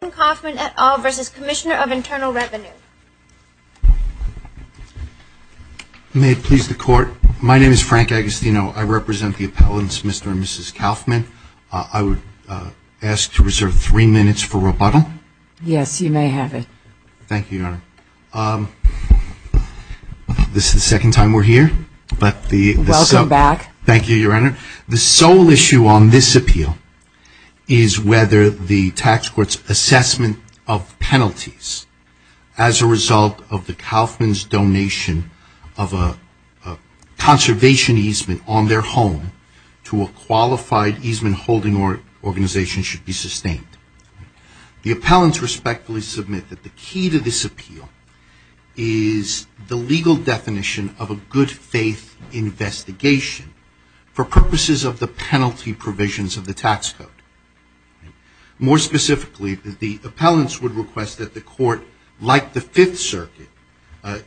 May it please the court. My name is Frank Agostino. I represent the appellants Mr. and Mrs. Kaufman. I would ask to reserve three minutes for rebuttal. Yes, you may have it. Thank you, Your Honor. This is the second time we're here. Welcome back. Thank you, Your Honor. The sole issue on this appeal is whether the tax court's assessment of penalties as a result of the Kaufman's donation of a conservation easement on their home to a qualified easement holding organization should be sustained. The appellants respectfully submit that the key to this appeal is the legal definition of a good faith investigation for purposes of the penalty provisions of the tax code. More specifically, the appellants would request that the court, like the Fifth Circuit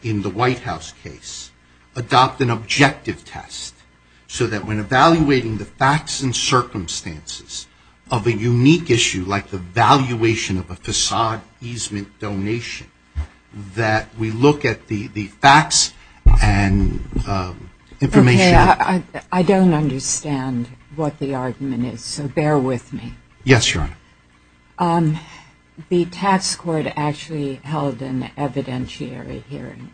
in the White House case, adopt an objective test so that when evaluating the facts and circumstances of a unique issue like the valuation of a facade easement donation, that we look at the facts and information. I don't understand what the argument is, so bear with me. Yes, Your Honor. The tax court actually held an evidentiary hearing,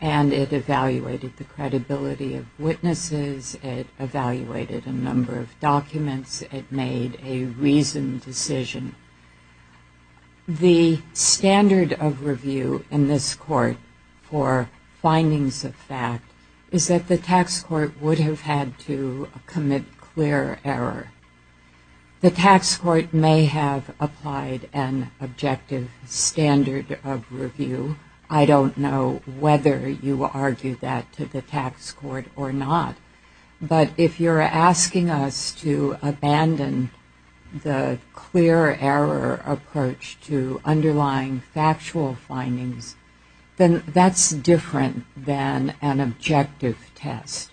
and it evaluated the credibility of witnesses, it evaluated a number of documents, it made a reasoned decision. The standard of review in this court for findings of fact is that the tax court would have had to commit clear error. The tax court may have applied an objective standard of review. I don't know whether you argue that to the tax court or not. But if you're asking us to abandon the clear error approach to underlying factual findings, then that's different than an objective test.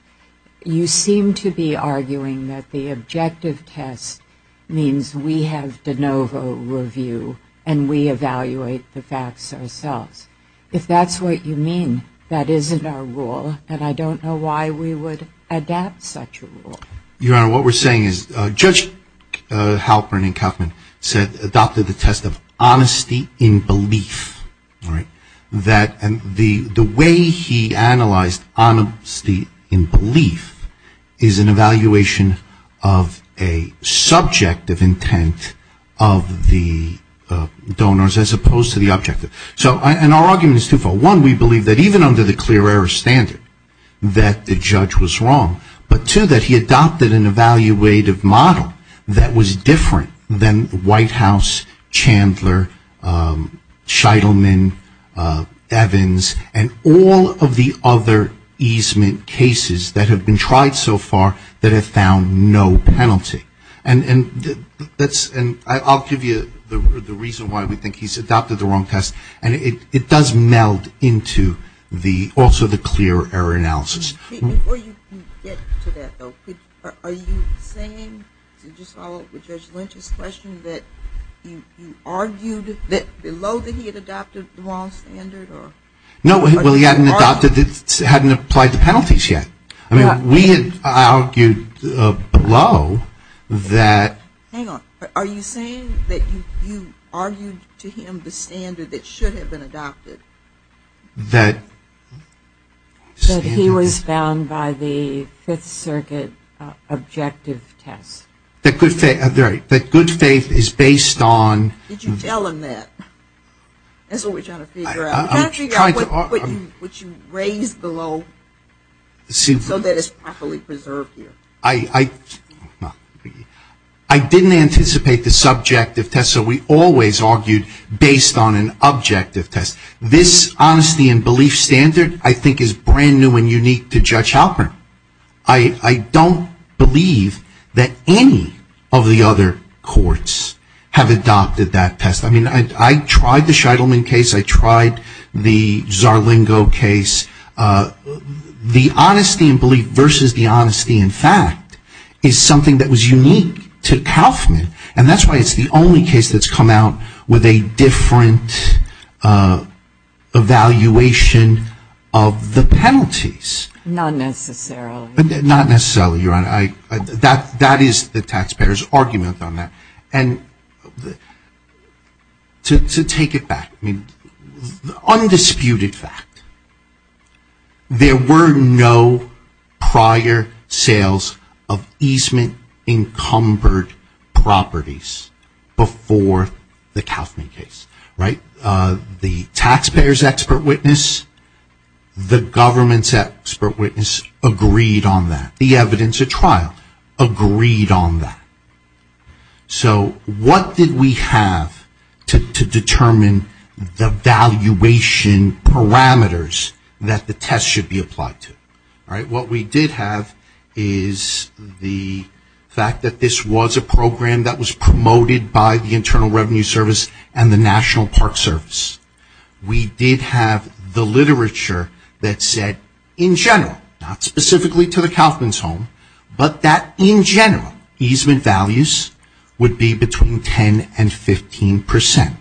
You seem to be arguing that the objective test means we have de novo review and we evaluate the facts ourselves. If that's what you mean, that isn't our rule, and I don't know why we would adapt such a rule. Your Honor, what we're saying is Judge Halpern and Kaufman adopted the test of honesty in belief. The way he analyzed honesty in belief is an evaluation of a subjective intent of the donors as opposed to the objective. And our argument is twofold. One, we believe that even under the clear error standard that the judge was wrong. But two, that he adopted an evaluative model that was different than the White House, Chandler, Scheidelman, Evans, and all of the other easement cases that have been tried so far that have found no penalty. And I'll give you the reason why we think he's adopted the wrong test. And it does meld into also the clear error analysis. Before you get to that, though, are you saying, to just follow up with Judge Lynch's question, that you argued that below that he had adopted the wrong standard? No, well, he hadn't applied the penalties yet. I mean, we had argued below that. Hang on. Are you saying that you argued to him the standard that should have been adopted? That. That he was bound by the Fifth Circuit objective test. That good faith is based on. Did you tell him that? That's what we're trying to figure out. We're trying to figure out what you raised below so that it's properly preserved here. I didn't anticipate the subjective test, so we always argued based on an objective test. This honesty and belief standard, I think, is brand new and unique to Judge Halpern. I don't believe that any of the other courts have adopted that test. I mean, I tried the Scheidelman case. I tried the Zarlingo case. The honesty and belief versus the honesty and fact is something that was unique to Kauffman, and that's why it's the only case that's come out with a different evaluation of the penalties. Not necessarily. Not necessarily, Your Honor. That is the taxpayer's argument on that. And to take it back, undisputed fact, there were no prior sales of easement-encumbered properties before the Kauffman case, right? The taxpayer's expert witness, the government's expert witness agreed on that. The evidence at trial agreed on that. So what did we have to determine the valuation parameters that the test should be applied to? What we did have is the fact that this was a program that was promoted by the Internal Revenue Service and the National Park Service. We did have the literature that said in general, not specifically to the Kauffman's home, but that in general easement values would be between 10 and 15 percent.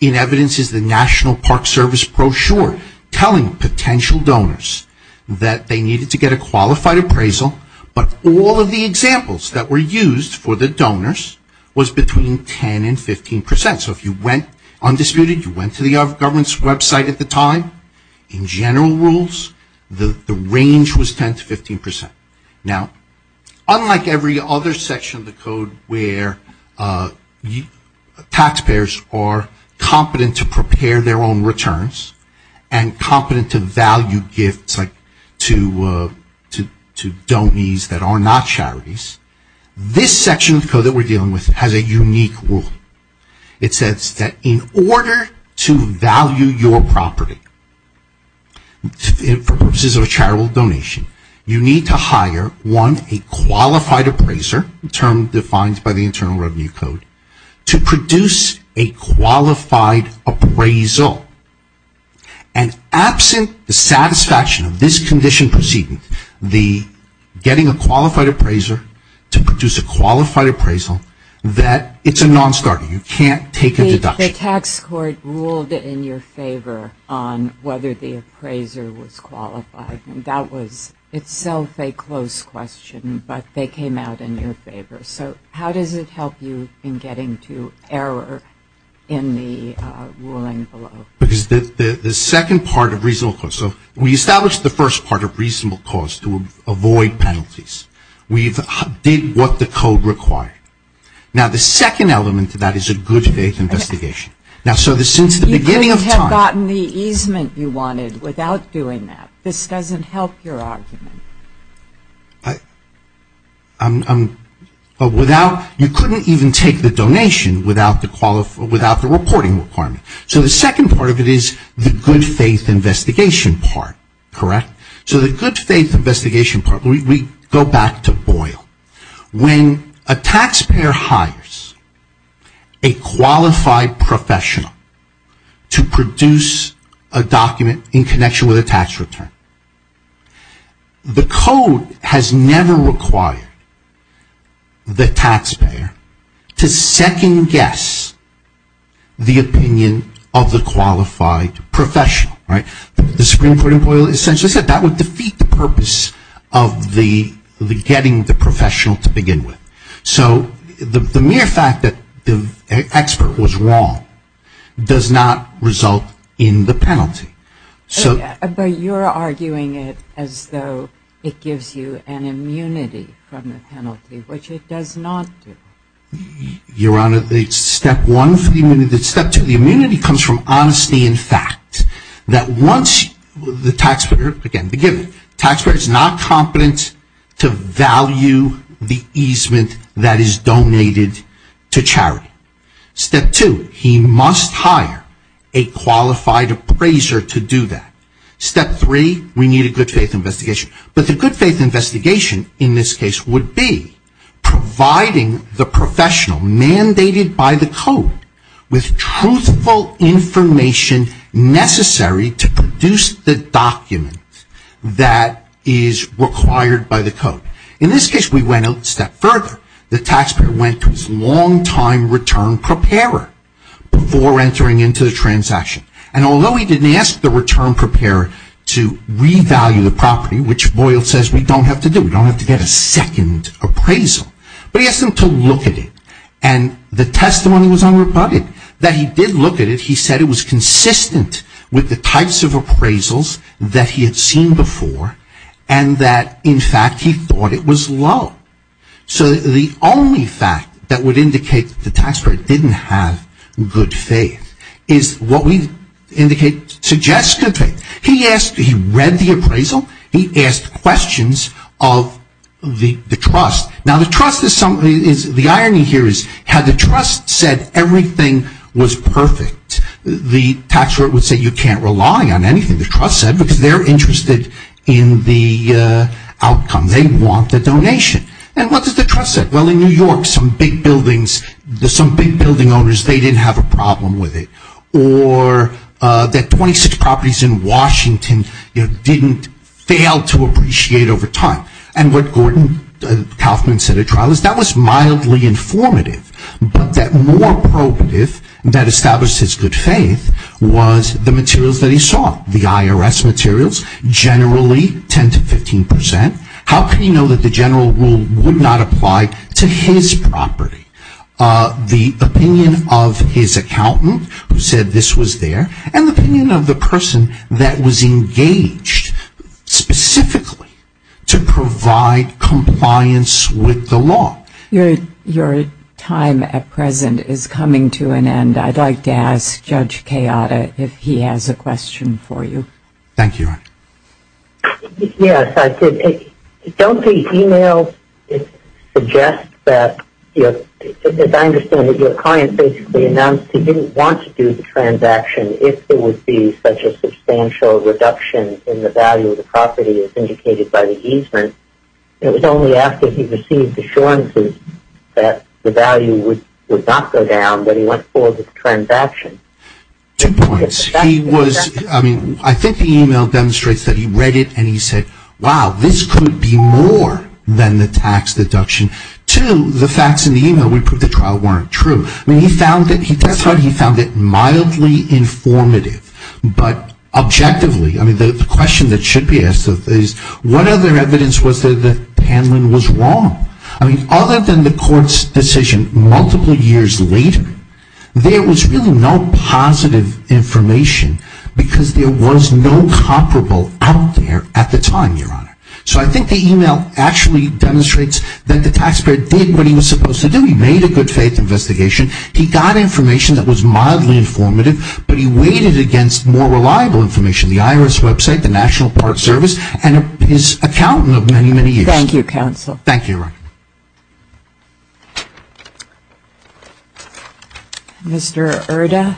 In evidence is the National Park Service brochure telling potential donors that they needed to get a qualified appraisal, but all of the examples that were used for the donors was between 10 and 15 percent. So if you went, undisputed, you went to the government's website at the time, in general rules, the range was 10 to 15 percent. Now, unlike every other section of the code where taxpayers are competent to prepare their own returns and competent to value gifts to donees that are not charities, this section of the code that we're dealing with has a unique rule. It says that in order to value your property for purposes of a charitable donation, you need to hire, one, a qualified appraiser, a term defined by the Internal Revenue Code, to produce a qualified appraisal. And absent the satisfaction of this condition proceeding, the getting a qualified appraiser to produce a qualified appraisal, that it's a non-starter. You can't take a deduction. The tax court ruled in your favor on whether the appraiser was qualified. That was itself a close question, but they came out in your favor. So how does it help you in getting to error in the ruling below? Because the second part of reasonable cause, so we established the first part of reasonable cause to avoid penalties. We did what the code required. Now, the second element to that is a good faith investigation. You could have gotten the easement you wanted without doing that. This doesn't help your argument. You couldn't even take the donation without the reporting requirement. So the second part of it is the good faith investigation part, correct? So the good faith investigation part, we go back to Boyle. When a taxpayer hires a qualified professional to produce a document in connection with a tax return, the code has never required the taxpayer to second guess the opinion of the qualified professional. The Supreme Court in Boyle essentially said that would defeat the purpose of the getting the professional to begin with. So the mere fact that the expert was wrong does not result in the penalty. But you're arguing it as though it gives you an immunity from the penalty, which it does not do. Your Honor, step one, step two, the immunity comes from honesty in fact. The taxpayer is not competent to value the easement that is donated to charity. Step two, he must hire a qualified appraiser to do that. Step three, we need a good faith investigation. But the good faith investigation in this case would be providing the professional, mandated by the code, with truthful information necessary to produce the document that is required by the code. In this case, we went a step further. The taxpayer went to his long-time return preparer before entering into the transaction. And although he didn't ask the return preparer to revalue the property, which Boyle says we don't have to do, we don't have to get a second appraisal, but he asked them to look at it. And the testimony was unrebutted. That he did look at it. He said it was consistent with the types of appraisals that he had seen before and that in fact he thought it was low. So the only fact that would indicate the taxpayer didn't have good faith is what we indicate suggests good faith. He read the appraisal. He asked questions of the trust. Now the trust, the irony here is had the trust said everything was perfect, the tax rate would say you can't rely on anything the trust said because they're interested in the outcome. They want the donation. And what does the trust say? Well, in New York, some big buildings, some big building owners, they didn't have a problem with it. Or that 26 properties in Washington didn't fail to appreciate over time. And what Gordon Kaufman said at trial is that was mildly informative, but that more probative that established his good faith was the materials that he saw. The IRS materials generally 10 to 15%. How could he know that the general rule would not apply to his property? The opinion of his accountant who said this was there and the opinion of the person that was engaged specifically to provide compliance with the law. Your time at present is coming to an end. I'd like to ask Judge Kayada if he has a question for you. Thank you. Yes, I could. Don't these emails suggest that, as I understand it, the client basically announced he didn't want to do the transaction if there would be such a substantial reduction in the value of the property as indicated by the easement. It was only after he received assurances that the value would not go down that he went forward with the transaction. Two points. He was, I mean, I think the email demonstrates that he read it and he said, wow, this could be more than the tax deduction. Two, the facts in the email would prove the trial weren't true. I mean, he found it mildly informative. But objectively, I mean, the question that should be asked is, what other evidence was there that Panlin was wrong? I mean, other than the court's decision multiple years later, there was really no positive information because there was no comparable out there at the time, Your Honor. So I think the email actually demonstrates that the taxpayer did what he was supposed to do. He made a good faith investigation. He got information that was mildly informative, but he waited against more reliable information, the IRS website, the National Park Service, and his accountant of many, many years. Thank you, counsel. Thank you, Your Honor. Mr. Erda.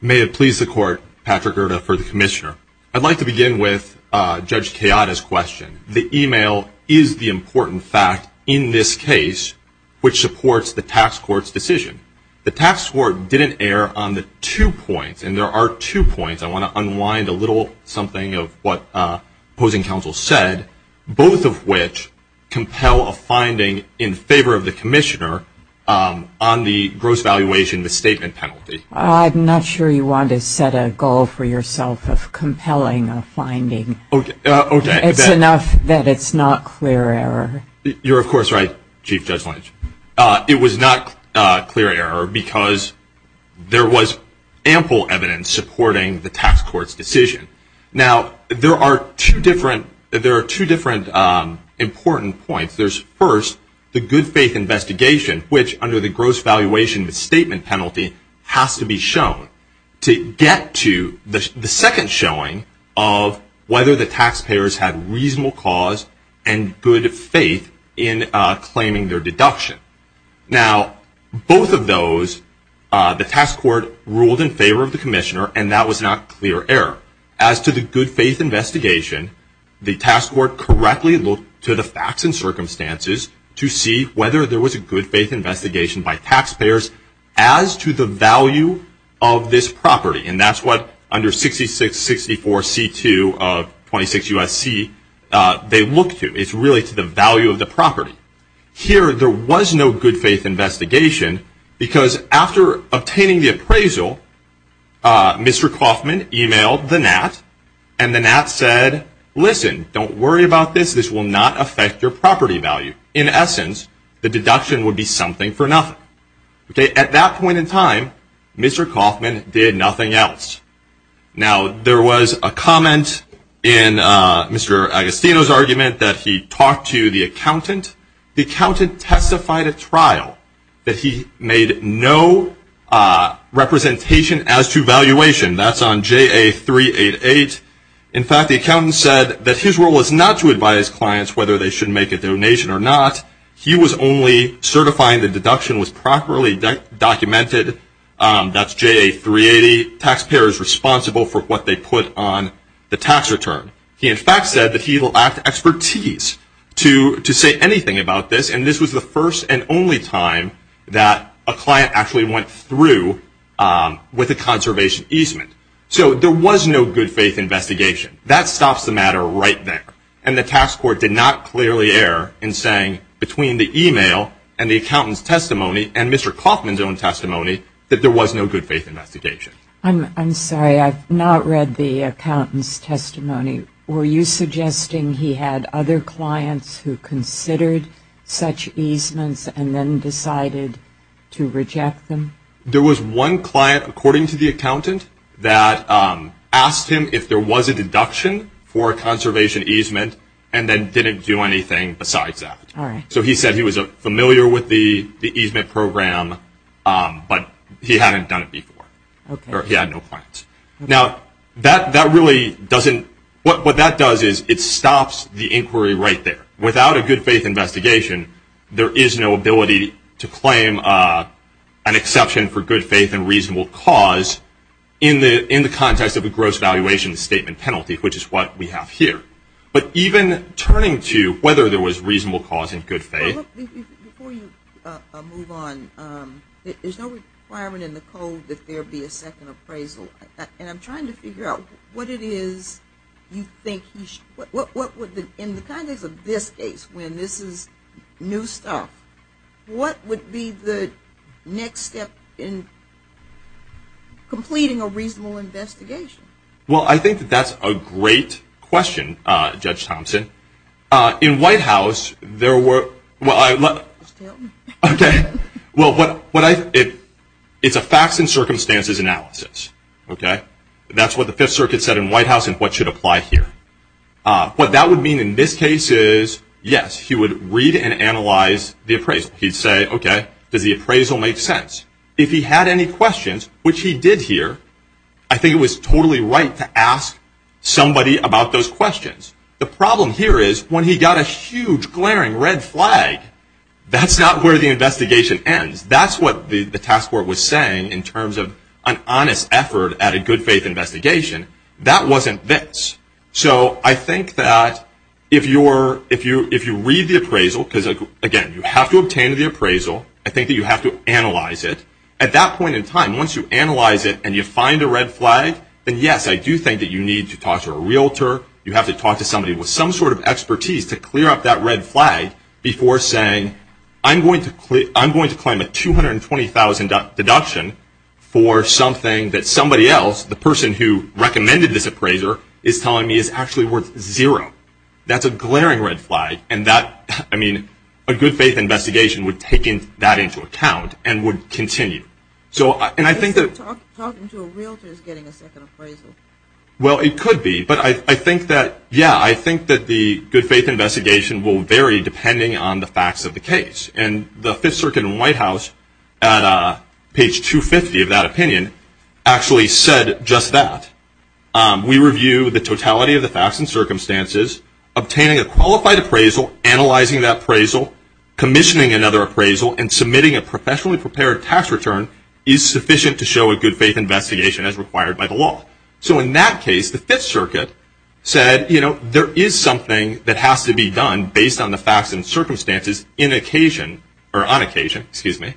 May it please the Court, Patrick Erda for the Commissioner. I'd like to begin with Judge Chiata's question. The email is the important fact in this case, which supports the tax court's decision. The tax court didn't err on the two points, and there are two points. I want to unwind a little something of what opposing counsel said, both of which compel a finding in favor of the Commissioner on the gross valuation, the statement penalty. I'm not sure you want to set a goal for yourself of compelling a finding. It's enough that it's not clear error. You're, of course, right, Chief Judge Lynch. It was not clear error because there was ample evidence supporting the tax court's decision. Now, there are two different important points. There's, first, the good faith investigation, which under the gross valuation statement penalty has to be shown to get to the second showing of whether the taxpayers had reasonable cause and good faith in claiming their deduction. Now, both of those, the tax court ruled in favor of the Commissioner, and that was not clear error. As to the good faith investigation, the tax court correctly looked to the facts and circumstances to see whether there was a good faith investigation by taxpayers as to the value of this property, and that's what under 6664C2 of 26 U.S.C. they looked to. It's really to the value of the property. Here, there was no good faith investigation because after obtaining the appraisal, Mr. Kauffman emailed the NAT, and the NAT said, listen, don't worry about this. This will not affect your property value. In essence, the deduction would be something for nothing. At that point in time, Mr. Kauffman did nothing else. Now, there was a comment in Mr. Agostino's argument that he talked to the accountant. The accountant testified at trial that he made no representation as to valuation. That's on JA388. In fact, the accountant said that his role is not to advise clients whether they should make a donation or not. He was only certifying the deduction was properly documented. That's JA380. Taxpayer is responsible for what they put on the tax return. He, in fact, said that he will act expertise to say anything about this, and this was the first and only time that a client actually went through with a conservation easement. So there was no good faith investigation. That stops the matter right there. And the tax court did not clearly err in saying between the e-mail and the accountant's testimony and Mr. Kauffman's own testimony that there was no good faith investigation. I'm sorry. I've not read the accountant's testimony. Were you suggesting he had other clients who considered such easements and then decided to reject them? There was one client, according to the accountant, that asked him if there was a deduction for a conservation easement and then didn't do anything besides that. So he said he was familiar with the easement program, but he hadn't done it before or he had no plans. Now, what that does is it stops the inquiry right there. Without a good faith investigation, there is no ability to claim an exception for good faith and reasonable cause in the context of a gross valuation statement penalty, which is what we have here. But even turning to whether there was reasonable cause in good faith. Before you move on, there's no requirement in the code that there be a second appraisal. And I'm trying to figure out what it is you think he should do. In the context of this case when this is new stuff, what would be the next step in completing a reasonable investigation? Well, I think that's a great question, Judge Thompson. In White House, there were... Just tell me. Okay. Well, it's a facts and circumstances analysis, okay? That's what the Fifth Circuit said in White House and what should apply here. What that would mean in this case is, yes, he would read and analyze the appraisal. He'd say, okay, does the appraisal make sense? If he had any questions, which he did here, I think it was totally right to ask somebody about those questions. The problem here is when he got a huge, glaring red flag, that's not where the investigation ends. That's what the task force was saying in terms of an honest effort at a good faith investigation. That wasn't this. I think that if you read the appraisal, because again, you have to obtain the appraisal. I think that you have to analyze it. At that point in time, once you analyze it and you find a red flag, then yes, I do think that you need to talk to a realtor. You have to talk to somebody with some sort of expertise to clear up that red flag before saying, I'm going to claim a $220,000 deduction for something that somebody else, the person who recommended this appraiser, is telling me is actually worth zero. That's a glaring red flag. A good faith investigation would take that into account and would continue. Talking to a realtor is getting a second appraisal. Well, it could be, but I think that, yeah, I think that the good faith investigation will vary depending on the facts of the case. The Fifth Circuit in the White House, at page 250 of that opinion, actually said just that. We review the totality of the facts and circumstances. Obtaining a qualified appraisal, analyzing that appraisal, commissioning another appraisal, and submitting a professionally prepared tax return is sufficient to show a good faith investigation as required by the law. So in that case, the Fifth Circuit said there is something that has to be done based on the facts and circumstances in occasion, or on occasion, excuse me,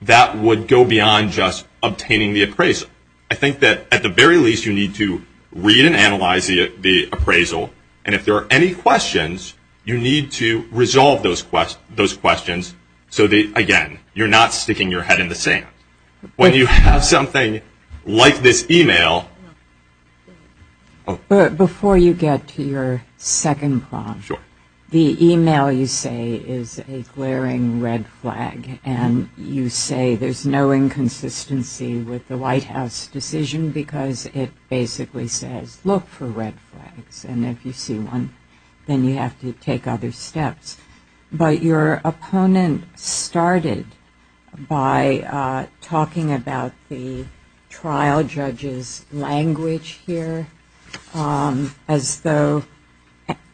that would go beyond just obtaining the appraisal. I think that, at the very least, you need to read and analyze the appraisal, and if there are any questions, you need to resolve those questions so that, again, you're not sticking your head in the sand. When you have something like this email. Before you get to your second prompt, the email you say is a glaring red flag, and you say there's no inconsistency with the White House decision because it basically says, look for red flags, and if you see one, then you have to take other steps. But your opponent started by talking about the trial judge's language here as though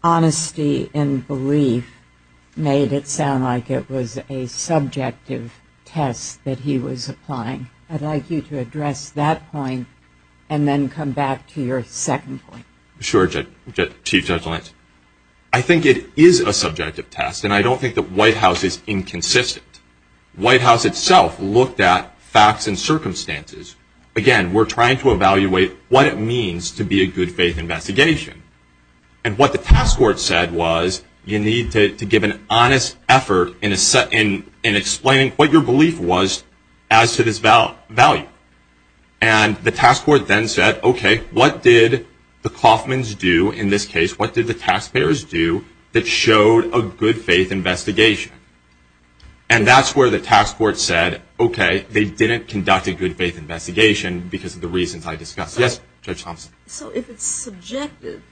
honesty and belief made it sound like it was a subjective test that he was applying. I'd like you to address that point and then come back to your second point. Sure, Chief Judge Lance. I think it is a subjective test, and I don't think the White House is inconsistent. The White House itself looked at facts and circumstances. Again, we're trying to evaluate what it means to be a good faith investigation, and what the task force said was you need to give an honest effort in explaining what your belief was as to this value. And the task force then said, okay, what did the Kauffmans do in this case? What did the taxpayers do that showed a good faith investigation? And that's where the task force said, okay, they didn't conduct a good faith investigation because of the reasons I discussed. Yes, Judge Thompson. So if it's subjective,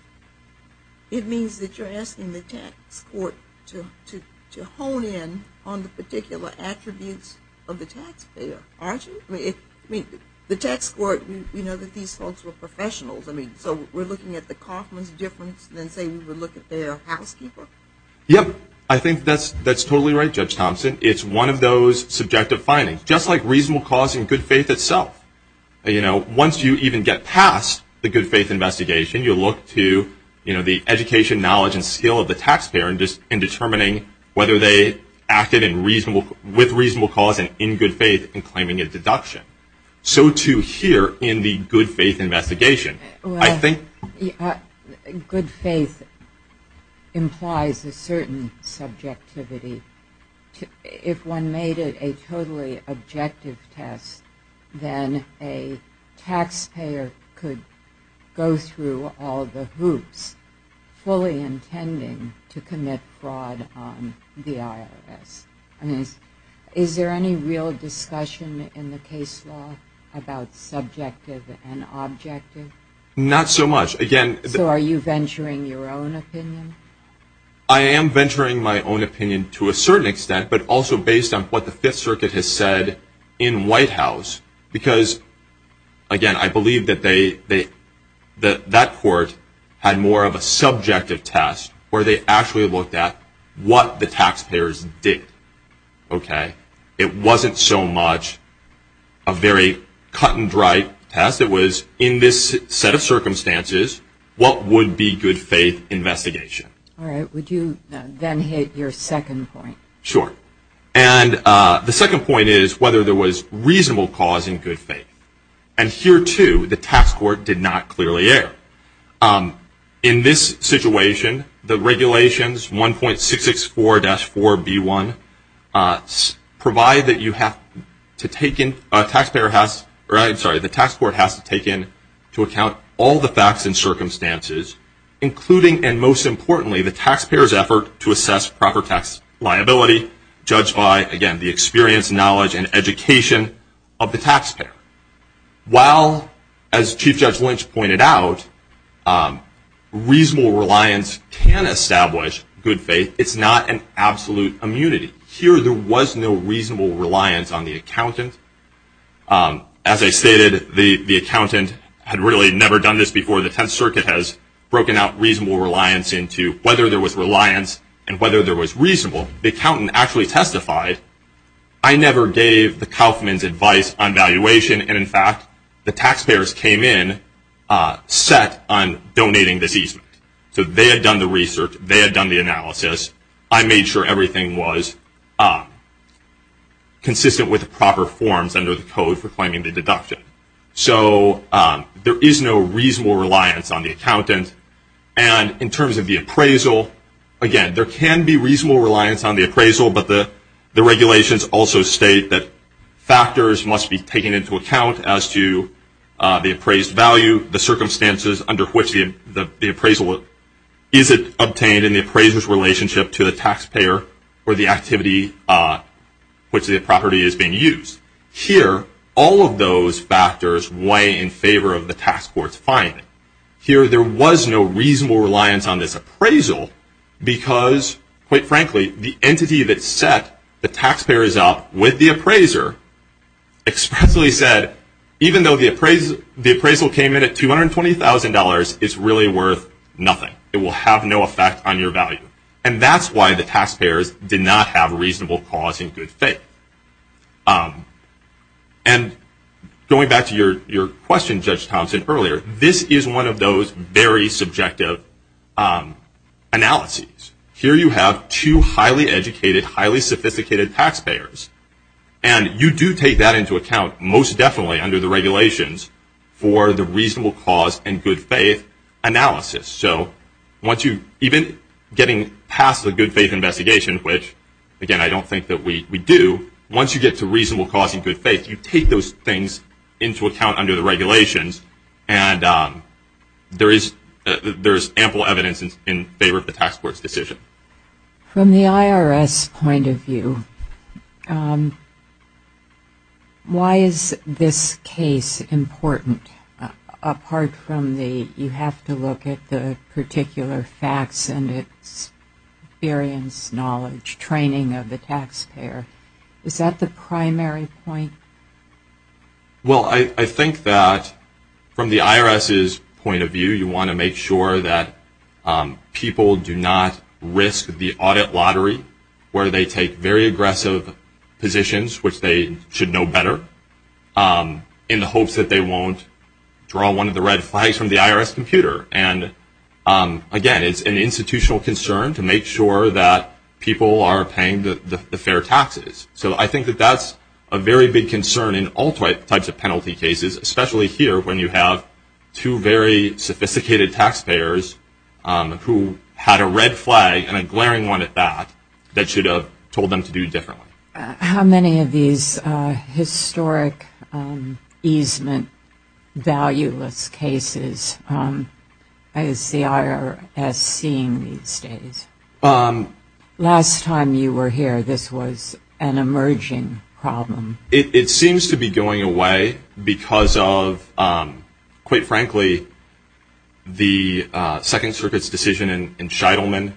it means that you're asking the task force to hone in on the particular attributes of the taxpayer, aren't you? I mean, the task force, we know that these folks were professionals. So we're looking at the Kauffmans' difference than, say, we would look at their housekeeper? Yep. I think that's totally right, Judge Thompson. It's one of those subjective findings, just like reasonable cause and good faith itself. Once you even get past the good faith investigation, you look to the education, knowledge, and skill of the taxpayer in determining whether they acted with reasonable cause and in good faith in claiming a deduction. So too here in the good faith investigation. Well, good faith implies a certain subjectivity. If one made it a totally objective test, then a taxpayer could go through all the hoops fully intending to commit fraud on the IRS. Is there any real discussion in the case law about subjective and objective? Not so much. So are you venturing your own opinion? I am venturing my own opinion to a certain extent, but also based on what the Fifth Circuit has said in White House. Because, again, I believe that that court had more of a subjective test where they actually looked at what the taxpayers did. It wasn't so much a very cut-and-dried test. It was, in this set of circumstances, what would be good faith investigation? Would you then hit your second point? Sure. And the second point is whether there was reasonable cause in good faith. And here, too, the tax court did not clearly err. In this situation, the regulations, 1.664-4B1, provide that the tax court has to take into account all the facts and circumstances, including, and most importantly, the taxpayer's effort to assess proper tax liability, judged by, again, the experience, knowledge, and education of the taxpayer. While, as Chief Judge Lynch pointed out, reasonable reliance can establish good faith, it's not an absolute immunity. Here there was no reasonable reliance on the accountant. As I stated, the accountant had really never done this before. The Tenth Circuit has broken out reasonable reliance into whether there was reliance and whether there was reasonable. The accountant actually testified, I never gave the Kauffman's advice on valuation, and, in fact, the taxpayers came in set on donating this easement. So they had done the research. They had done the analysis. I made sure everything was consistent with the proper forms under the code for claiming the deduction. So there is no reasonable reliance on the accountant. And in terms of the appraisal, again, there can be reasonable reliance on the appraisal, but the regulations also state that factors must be taken into account as to the appraised value, the circumstances under which the appraisal is obtained, and the appraiser's relationship to the taxpayer or the activity which the property is being used. Here, all of those factors weigh in favor of the tax court's finding. Here there was no reasonable reliance on this appraisal because, quite frankly, the entity that set the taxpayers up with the appraiser expressly said, even though the appraisal came in at $220,000, it's really worth nothing. It will have no effect on your value. And that's why the taxpayers did not have a reasonable cause and good faith. And going back to your question, Judge Thompson, earlier, this is one of those very subjective analyses. Here you have two highly educated, highly sophisticated taxpayers. And you do take that into account, most definitely under the regulations, for the reasonable cause and good faith analysis. So even getting past the good faith investigation, which, again, I don't think that we do, once you get to reasonable cause and good faith, you take those things into account under the regulations. And there is ample evidence in favor of the tax court's decision. From the IRS point of view, why is this case important? Apart from the you have to look at the particular facts and experience, knowledge, training of the taxpayer. Is that the primary point? Well, I think that from the IRS's point of view, you want to make sure that people do not risk the audit lottery where they take very aggressive positions, which they should know better, in the hopes that they won't draw one of the red flags from the IRS computer. And, again, it's an institutional concern to make sure that people are paying the fair taxes. So I think that that's a very big concern in all types of penalty cases, especially here when you have two very sophisticated taxpayers who had a red flag and a glaring one at that that should have told them to do differently. How many of these historic easement valueless cases is the IRS seeing these days? Last time you were here, this was an emerging problem. It seems to be going away because of, quite frankly, the Second Circuit's decision in Sheitelman,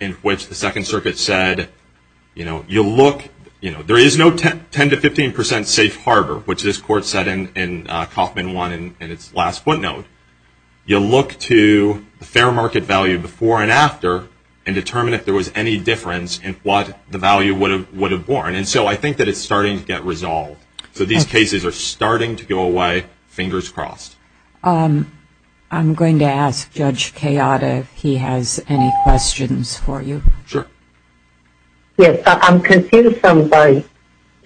in which the Second Circuit said, you know, there is no 10% to 15% safe harbor, which this court said in Kaufman 1 in its last footnote. You look to the fair market value before and after and determine if there was any difference in what the value would have borne. And so I think that it's starting to get resolved. So these cases are starting to go away, fingers crossed. I'm going to ask Judge Kayada if he has any questions for you. Sure. Yes, I'm confused by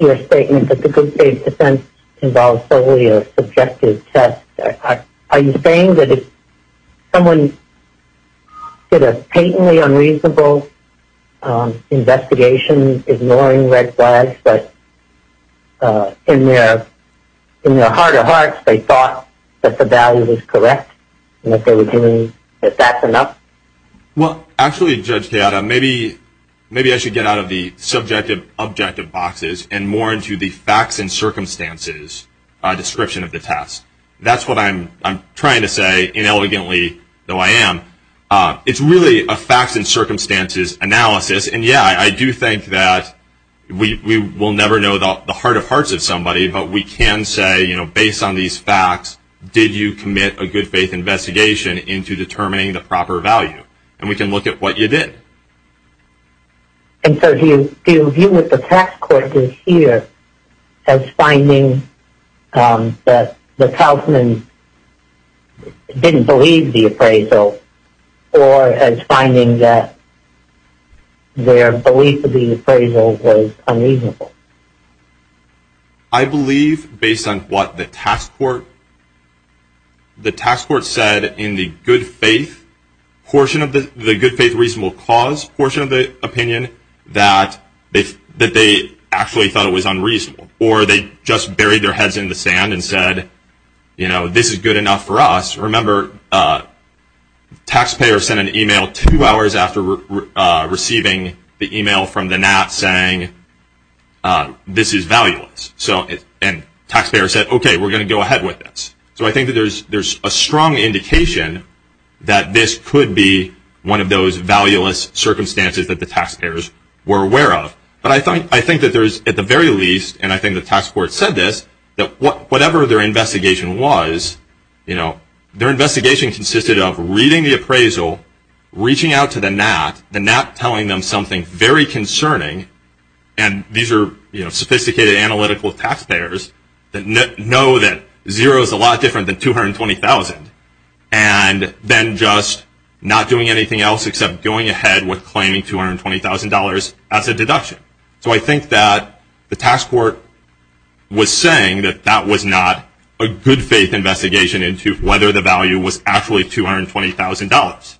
your statement that the good faith defense involves solely a subjective test. Are you saying that if someone did a patently unreasonable investigation, ignoring red flags, but in their heart of hearts they thought that the value was correct, that that's enough? Well, actually, Judge Kayada, maybe I should get out of the subjective-objective boxes and more into the facts and circumstances description of the test. That's what I'm trying to say, inelegantly, though I am. It's really a facts and circumstances analysis. And, yeah, I do think that we will never know the heart of hearts of somebody, but we can say, you know, based on these facts, did you commit a good faith investigation into determining the proper value? And we can look at what you did. And so do you view what the tax court did here as finding that the Kaufman didn't believe the appraisal or as finding that their belief of the appraisal was unreasonable? I believe, based on what the tax court said in the good faith reasonable cause portion of the opinion, that they actually thought it was unreasonable. Or they just buried their heads in the sand and said, you know, this is good enough for us. Remember, taxpayers sent an email two hours after receiving the email from the NAT saying, this is valueless. And taxpayers said, okay, we're going to go ahead with this. So I think that there's a strong indication that this could be one of those valueless circumstances that the taxpayers were aware of. But I think that there's, at the very least, and I think the tax court said this, that whatever their investigation was, their investigation consisted of reading the appraisal, reaching out to the NAT, the NAT telling them something very concerning. And these are sophisticated analytical taxpayers that know that zero is a lot different than $220,000. And then just not doing anything else except going ahead with claiming $220,000 as a deduction. So I think that the tax court was saying that that was not a good faith investigation into whether the value was actually $220,000.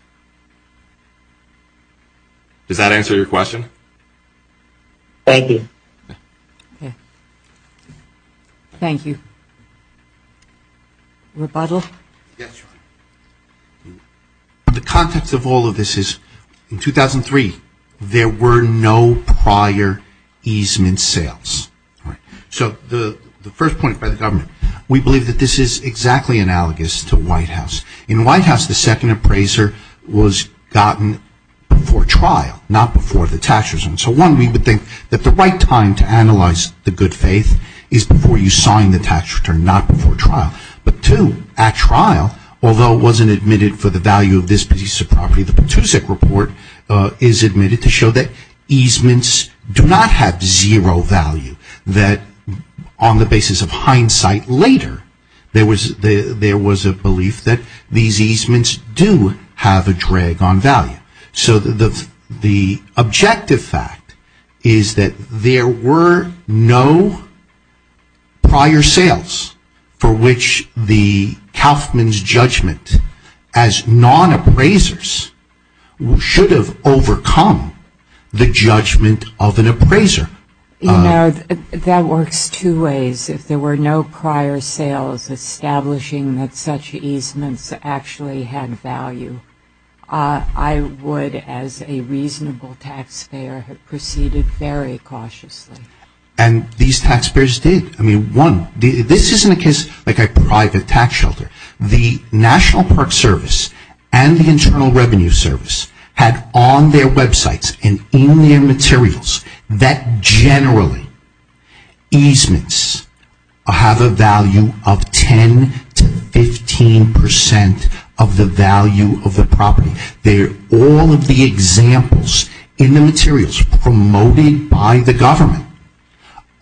Does that answer your question? Thank you. Thank you. Rebuttal? Yes, Your Honor. The context of all of this is, in 2003, there were no prior easement sales. So the first point by the government, we believe that this is exactly analogous to White House. In White House, the second appraiser was gotten before trial, not before the tax returns. So one, we would think that the right time to analyze the good faith is before you sign the tax return, not before trial. But two, at trial, although it wasn't admitted for the value of this piece of property, the Patusic report is admitted to show that easements do not have zero value. That on the basis of hindsight later, there was a belief that these easements do have a drag on value. So the objective fact is that there were no prior sales for which the Kauffman's judgment as non-appraisers should have overcome the judgment of an appraiser. You know, that works two ways. If there were no prior sales establishing that such easements actually had value, I would, as a reasonable taxpayer, have proceeded very cautiously. And these taxpayers did. I mean, one, this isn't a case like a private tax shelter. The National Park Service and the Internal Revenue Service had on their websites and in their materials that generally easements have a value of 10 to 15 percent of the value of the property. They're all of the examples in the materials promoted by the government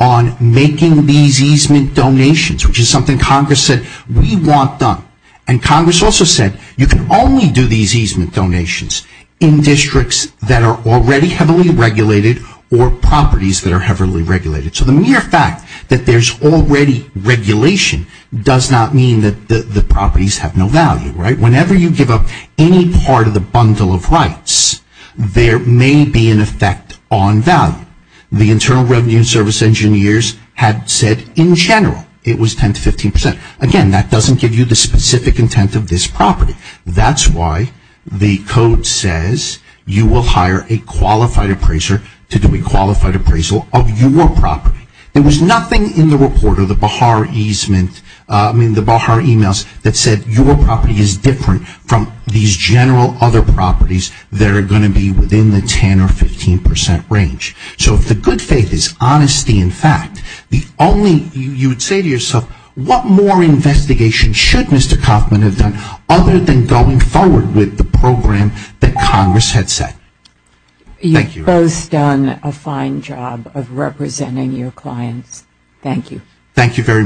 on making these easement donations, which is something Congress said we want done. And Congress also said you can only do these easement donations in districts that are already heavily regulated or properties that are heavily regulated. So the mere fact that there's already regulation does not mean that the properties have no value, right? Whenever you give up any part of the bundle of rights, there may be an effect on value. The Internal Revenue Service engineers had said in general it was 10 to 15 percent. Again, that doesn't give you the specific intent of this property. That's why the code says you will hire a qualified appraiser to do a qualified appraisal of your property. There was nothing in the report of the Baha'i emails that said your property is different from these general other properties that are going to be within the 10 or 15 percent range. So if the good faith is honesty and fact, you would say to yourself, what more investigation should Mr. Kauffman have done other than going forward with the program that Congress had set? Thank you. You've both done a fine job of representing your clients. Thank you. Thank you very much.